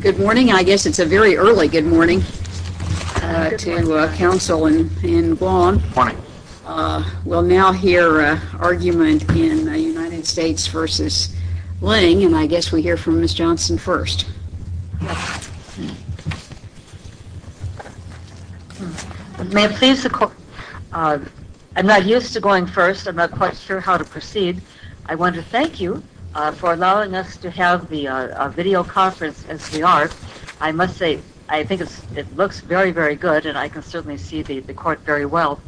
Good morning. I guess it's a very early good morning to Council in Guam. We'll now hear an argument in United States v. Ling, and I guess we hear from Ms. Johnson first. I'm not used to going first. I'm not quite sure how to proceed. I want to thank you for allowing us to have the video conference as we are. I must say I think it looks very, very good, and I can certainly see the court very well.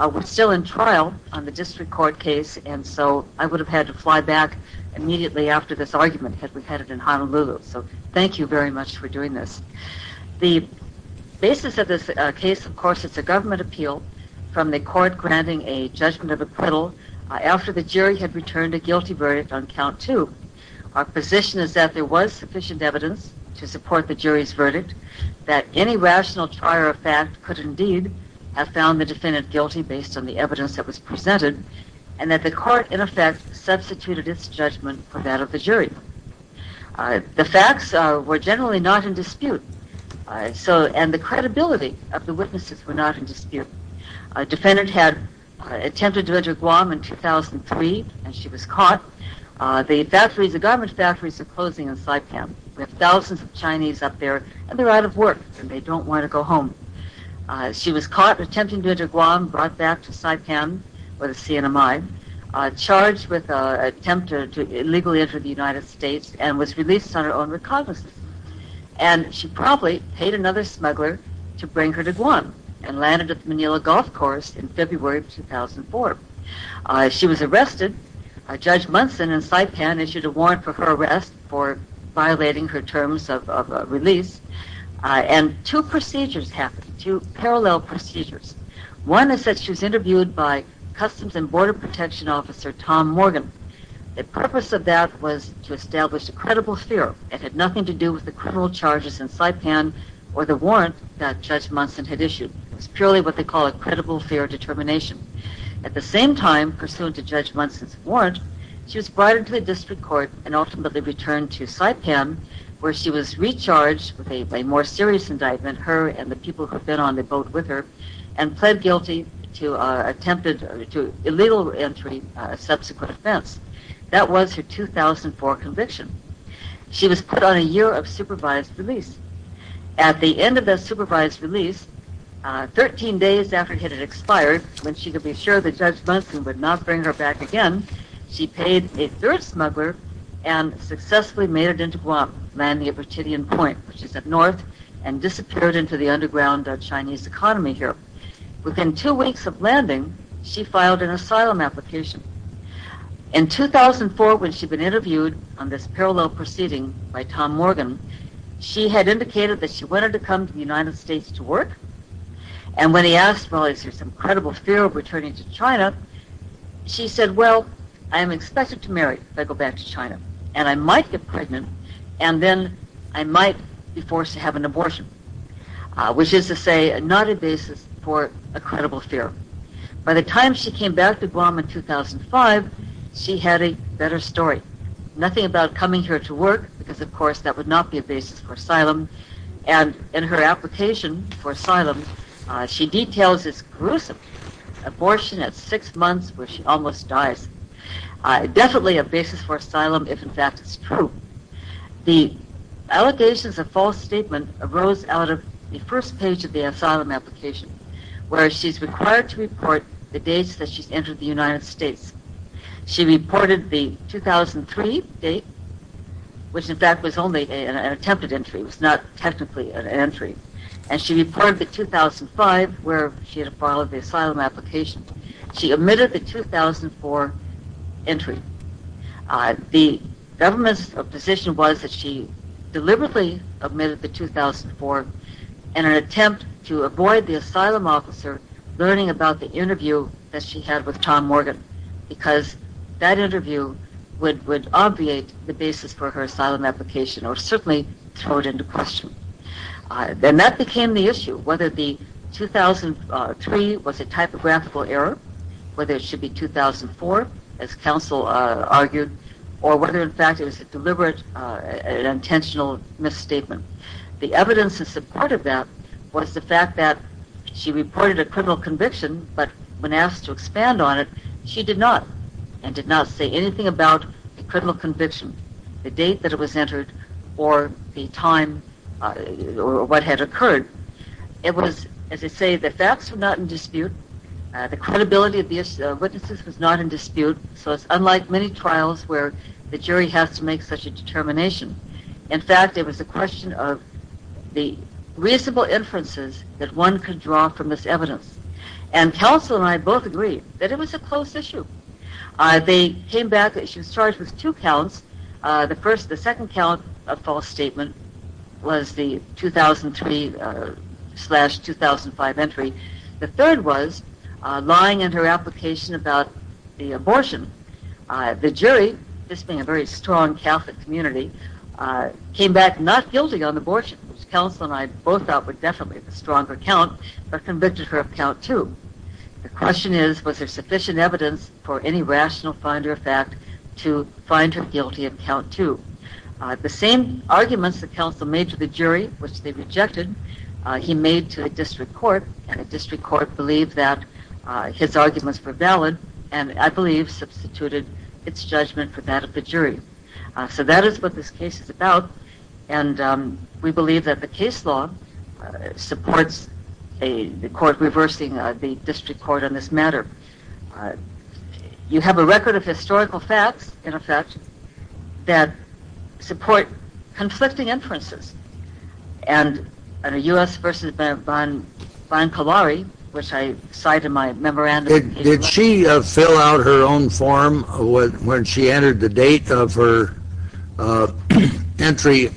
We're still in trial on the district court case, and so I would have had to fly back immediately after this argument had we had it in Honolulu. So thank you very much for doing this. The basis of this case, of course, is a government appeal from the court granting a judgment of acquittal after the jury had returned a guilty verdict on count two. Our position is that there was sufficient evidence to support the jury's verdict, that any rational trier of fact could indeed have found the defendant guilty based on the evidence that was presented, and that the court, in effect, substituted its judgment for that of the jury. The facts were generally not in dispute, and the credibility of the witnesses were not in dispute. A defendant had attempted to enter Guam in 2003, and she was caught. The garment factories are closing in Saipan. We have thousands of Chinese up there, and they're out of work, and they don't want to go home. She was caught attempting to enter Guam, brought back to Saipan with a CNMI, charged with an attempt to illegally enter the United States, and was released on her own recognizance. And she probably paid another smuggler to bring her to Guam and landed at the Manila Golf Course in February of 2004. She was arrested. Judge Munson in Saipan issued a warrant for her arrest for violating her terms of release, and two procedures happened, two parallel procedures. One is that she was interviewed by Customs and Border Protection Officer Tom Morgan. The purpose of that was to establish a credible fear. It had nothing to do with the criminal charges in Saipan or the warrant that Judge Munson had issued. It was purely what they call a credible fear determination. At the same time, pursuant to Judge Munson's warrant, she was brought into the district court and ultimately returned to Saipan, where she was recharged with a more serious indictment, and the people who had been on the boat with her, and pled guilty to illegal entry, a subsequent offense. That was her 2004 conviction. She was put on a year of supervised release. At the end of that supervised release, 13 days after it had expired, when she could be assured that Judge Munson would not bring her back again, she paid a third smuggler and successfully made it into Guam, landing at Virginia Point, which is up north, and disappeared into the underground Chinese economy here. Within two weeks of landing, she filed an asylum application. In 2004, when she had been interviewed on this parallel proceeding by Tom Morgan, she had indicated that she wanted to come to the United States to work, and when he asked, well, is there some credible fear of returning to China, she said, well, I am expected to marry if I go back to China, and I might get pregnant, and then I might be forced to have an abortion, which is to say, not a basis for a credible fear. By the time she came back to Guam in 2005, she had a better story. Nothing about coming here to work, because of course that would not be a basis for asylum, and in her application for asylum, she details this gruesome abortion at six months where she almost dies. Definitely a basis for asylum, if in fact it is true. The allegations of false statement arose out of the first page of the asylum application, where she is required to report the dates that she has entered the United States. She reported the 2003 date, which in fact was only an attempted entry, it was not technically an entry, and she reported the 2005 where she had filed the asylum application. She omitted the 2004 entry. The government's position was that she deliberately omitted the 2004 in an attempt to avoid the asylum officer learning about the interview that she had with Tom Morgan, because that interview would obviate the basis for her asylum application, or certainly throw it into question. Then that became the issue, whether the 2003 was a typographical error, whether it should be 2004, as counsel argued, or whether in fact it was a deliberate and intentional misstatement. The evidence in support of that was the fact that she reported a criminal conviction, but when asked to expand on it, she did not, and did not say anything about the criminal conviction, the date that it was entered, or the time, or what had occurred. It was, as I say, the facts were not in dispute, the credibility of the witnesses was not in dispute, so it's unlike many trials where the jury has to make such a determination. In fact, it was a question of the reasonable inferences that one could draw from this evidence, and counsel and I both agreed that it was a closed issue. She was charged with two counts. The second count, a false statement, was the 2003-2005 entry. The third was lying in her application about the abortion. The jury, this being a very strong Catholic community, came back not guilty on abortion, which counsel and I both thought were definitely the stronger count, but convicted her of count two. The question is, was there sufficient evidence for any rational finder of fact to find her guilty of count two? The same arguments that counsel made to the jury, which they rejected, he made to the district court, and the district court believed that his arguments were valid, and I believe substituted its judgment for that of the jury. So that is what this case is about, and we believe that the case law supports the court reversing the district court on this matter. You have a record of historical facts, in effect, that support conflicting inferences, and U.S. v. Von Collari, which I cite in my memorandum. Did she fill out her own form when she entered the date of her entry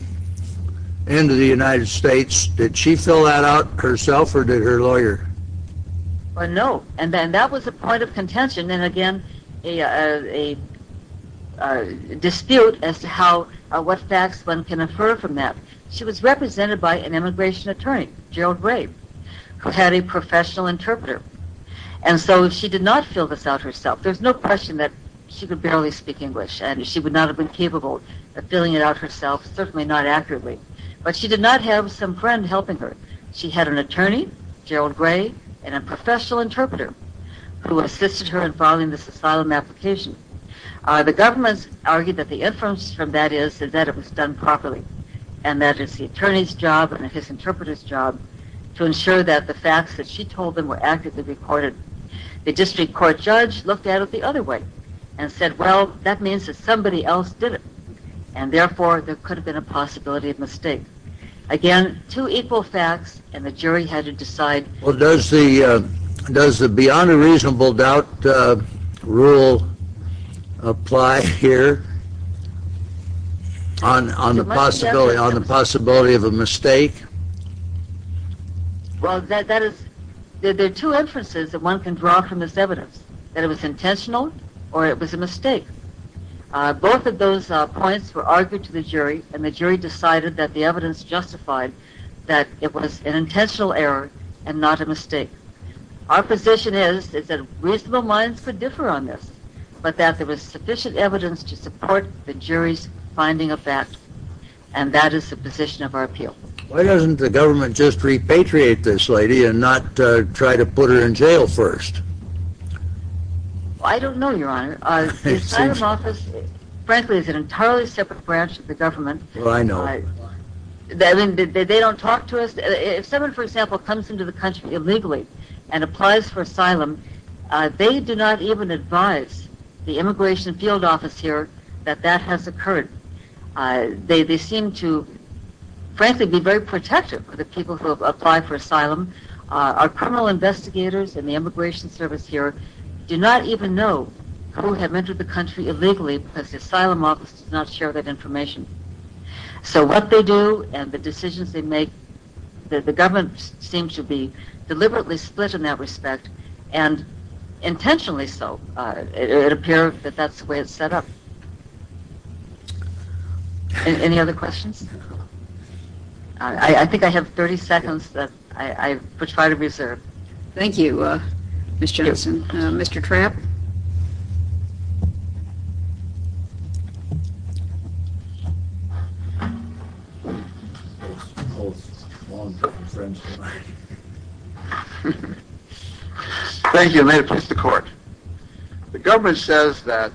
into the United States? Did she fill that out herself, or did her lawyer? No, and that was a point of contention, and again, a dispute as to what facts one can infer from that. She was represented by an immigration attorney, Gerald Ray, who had a professional interpreter. And so she did not fill this out herself. There's no question that she could barely speak English, and she would not have been capable of filling it out herself, certainly not accurately, but she did not have some friend helping her. She had an attorney, Gerald Ray, and a professional interpreter who assisted her in filing this asylum application. The government argued that the inference from that is that it was done properly, and that it's the attorney's job and his interpreter's job to ensure that the facts that she told them were accurately recorded. The district court judge looked at it the other way and said, well, that means that somebody else did it, and therefore there could have been a possibility of mistake. Again, two equal facts, and the jury had to decide. Well, does the beyond a reasonable doubt rule apply here on the possibility of a mistake? Well, there are two inferences that one can draw from this evidence, that it was intentional or it was a mistake. Both of those points were argued to the jury, and the jury decided that the evidence justified that it was an intentional error and not a mistake. Our position is that reasonable minds could differ on this, but that there was sufficient evidence to support the jury's finding of facts, and that is the position of our appeal. Why doesn't the government just repatriate this lady and not try to put her in jail first? Well, I don't know, Your Honor. The asylum office, frankly, is an entirely separate branch of the government. Well, I know. I mean, they don't talk to us. If someone, for example, comes into the country illegally and applies for asylum, they do not even advise the immigration field office here that that has occurred. They seem to, frankly, be very protective of the people who apply for asylum. Our criminal investigators in the immigration service here do not even know who have entered the country illegally because the asylum office does not share that information. So what they do and the decisions they make, the government seems to be deliberately split in that respect, and intentionally so. It appears that that's the way it's set up. Any other questions? I think I have 30 seconds that I would try to reserve. Thank you, Ms. Johnson. Mr. Trapp? Thank you. May it please the Court. The government says that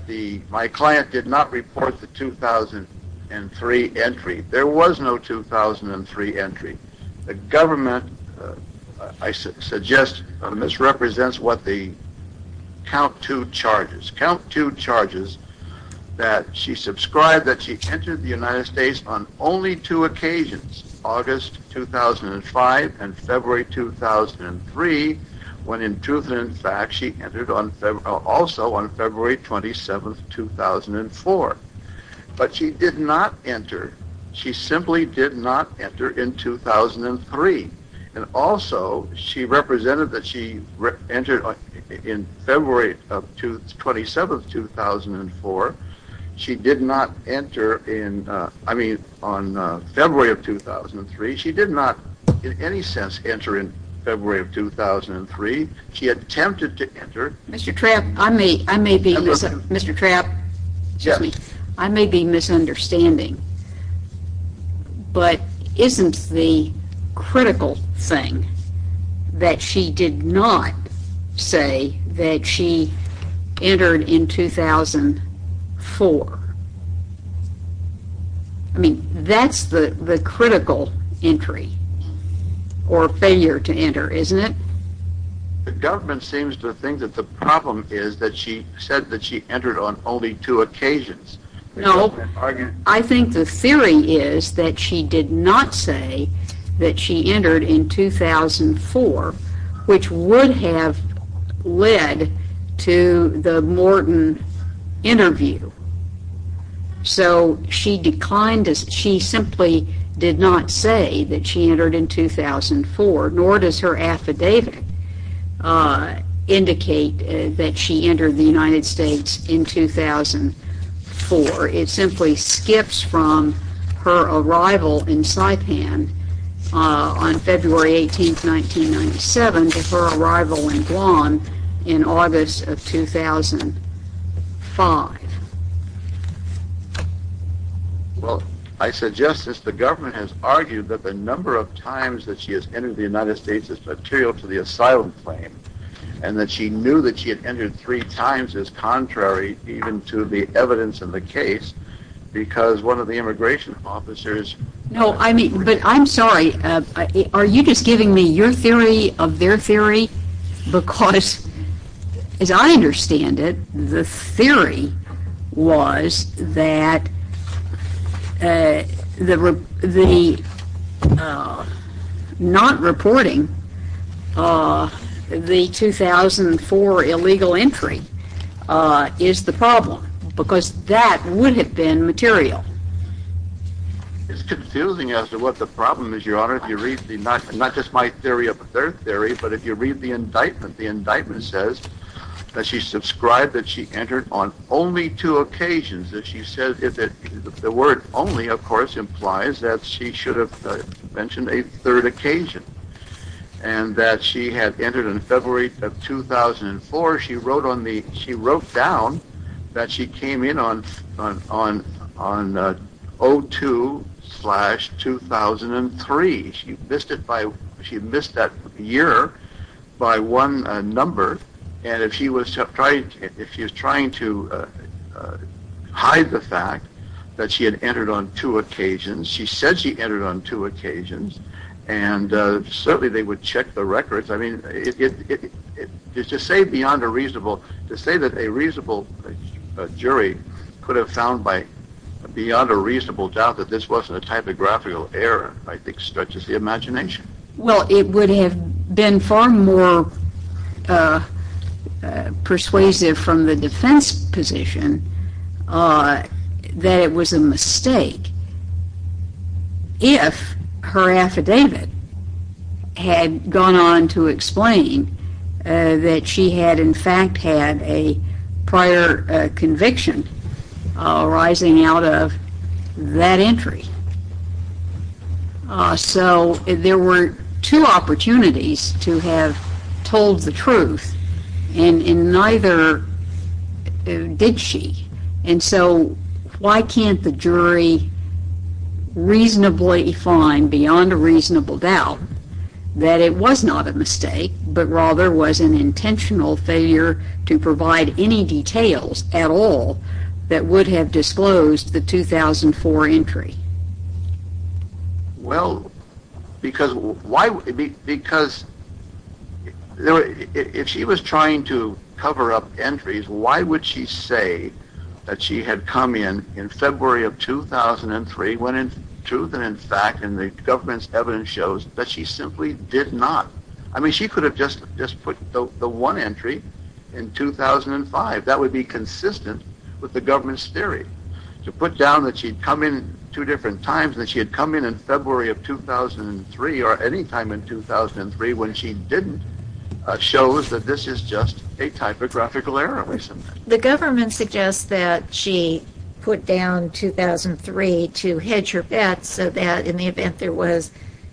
my client did not report the 2003 entry. There was no 2003 entry. The government, I suggest, misrepresents what the count two charges. Count two charges that she subscribed that she entered the United States on only two occasions, August 2005 and February 2003, when in truth and in fact she entered also on February 27, 2004. But she did not enter. She simply did not enter in 2003. And also, she represented that she entered in February 27, 2004. She did not enter in, I mean, on February of 2003. She did not in any sense enter in February of 2003. She attempted to enter. Mr. Trapp, I may be misunderstanding. But isn't the critical thing that she did not say that she entered in 2004? I mean, that's the critical entry or failure to enter, isn't it? The government seems to think that the problem is that she said that she entered on only two occasions. No, I think the theory is that she did not say that she entered in 2004, which would have led to the Morton interview. So she declined, she simply did not say that she entered in 2004, nor does her affidavit indicate that she entered the United States in 2004. It simply skips from her arrival in Saipan on February 18, 1997 to her arrival in Guam in August of 2005. Well, I suggest that the government has argued that the number of times that she has entered the United States is material to the asylum claim. And that she knew that she had entered three times is contrary even to the evidence in the case because one of the immigration officers... No, I mean, but I'm sorry, are you just giving me your theory of their theory? Because as I understand it, the theory was that not reporting the 2004 illegal entry is the problem because that would have been material. It's confusing as to what the problem is, Your Honor. Not just my theory of their theory, but if you read the indictment, the indictment says that she subscribed, that she entered on only two occasions. The word only, of course, implies that she should have mentioned a third occasion and that she had entered in February of 2004. She wrote down that she came in on 02-2003. She missed that year by one number. And if she was trying to hide the fact that she had entered on two occasions, she said she entered on two occasions, and certainly they would check the records. I mean, to say that a reasonable jury could have found beyond a reasonable doubt that this wasn't a typographical error, I think, stretches the imagination. Well, it would have been far more persuasive from the defense position that it was a mistake if her affidavit had gone on to explain that she had in fact had a prior conviction arising out of that entry. So there were two opportunities to have told the truth, and neither did she. And so why can't the jury reasonably find beyond a reasonable doubt that it was not a mistake, but rather was an intentional failure to provide any details at all that would have disclosed the 2004 entry? Well, because if she was trying to cover up entries, why would she say that she had come in in February of 2003, went in truth and in fact, and the government's evidence shows that she simply did not? I mean, she could have just put the one entry in 2005. That would be consistent with the government's theory. To put down that she had come in two different times, that she had come in in February of 2003 or any time in 2003 when she didn't, shows that this is just a typographical error. The government suggests that she put down 2003 to hedge her bets so that in the event there was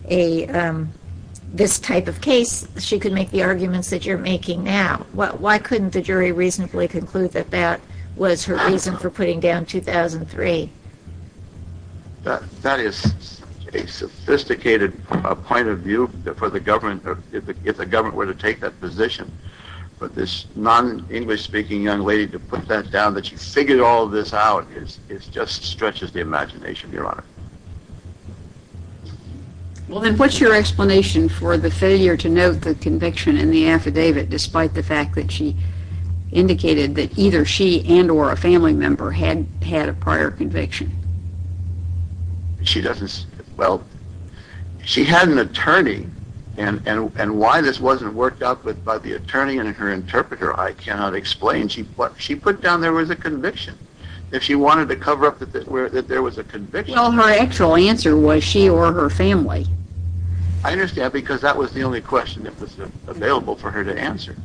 this type of case, she could make the arguments that you're making now. Why couldn't the jury reasonably conclude that that was her reason for putting down 2003? That is a sophisticated point of view if the government were to take that position. But this non-English-speaking young lady to put that down, that she figured all this out, it just stretches the imagination, Your Honor. Well, then what's your explanation for the failure to note the conviction in the affidavit despite the fact that she indicated that either she and or a family member had had a prior conviction? She doesn't, well, she had an attorney and why this wasn't worked out by the attorney and her interpreter, I cannot explain. She put down there was a conviction. If she wanted to cover up that there was a conviction... Well, her actual answer was she or her family. I understand because that was the only question that was available for her to answer.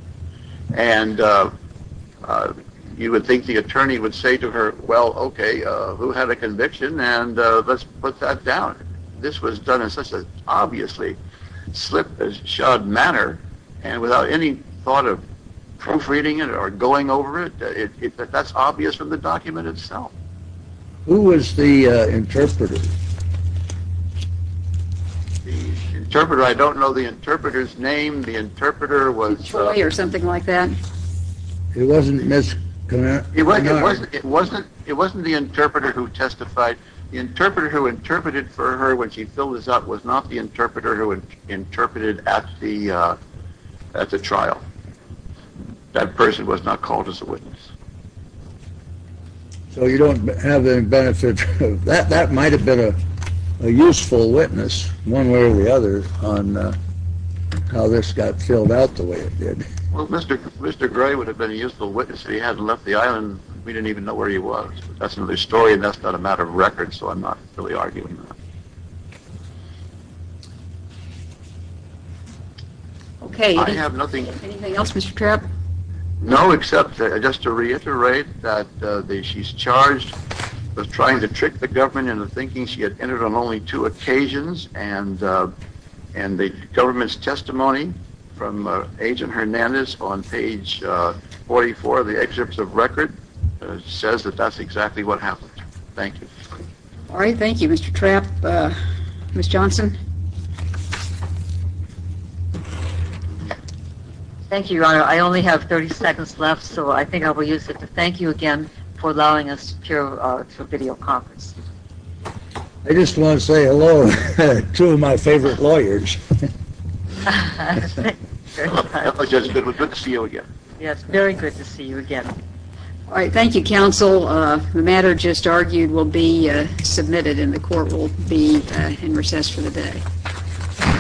And you would think the attorney would say to her, well, okay, who had a conviction and let's put that down. This was done in such an obviously slip-shod manner and without any thought of proofreading it or going over it, that's obvious from the document itself. Who was the interpreter? The interpreter, I don't know the interpreter's name. The interpreter was... Troy or something like that. It wasn't Ms. Conner. It wasn't the interpreter who testified. The interpreter who interpreted for her when she filled this out was not the interpreter who interpreted at the trial. That person was not called as a witness. So you don't have any benefit... That might have been a useful witness one way or the other on how this got filled out the way it did. Well, Mr. Gray would have been a useful witness if he hadn't left the island. We didn't even know where he was. That's another story and that's not a matter of record, so I'm not really arguing that. Okay. I have nothing... Anything else, Mr. Trapp? No, except just to reiterate that she's charged with trying to trick the government into thinking she had entered on only two occasions, and the government's testimony from Agent Hernandez on page 44 of the excerpts of record says that that's exactly what happened. Thank you. All right. Thank you, Mr. Trapp. Ms. Johnson? Thank you, Your Honor. I only have 30 seconds left, so I think I will use it to thank you again for allowing us to appear to a video conference. I just want to say hello to two of my favorite lawyers. Thank you very much. Good to see you again. Yes, very good to see you again. All right. Thank you, counsel. The matter just argued will be submitted and the court will be in recess for the day.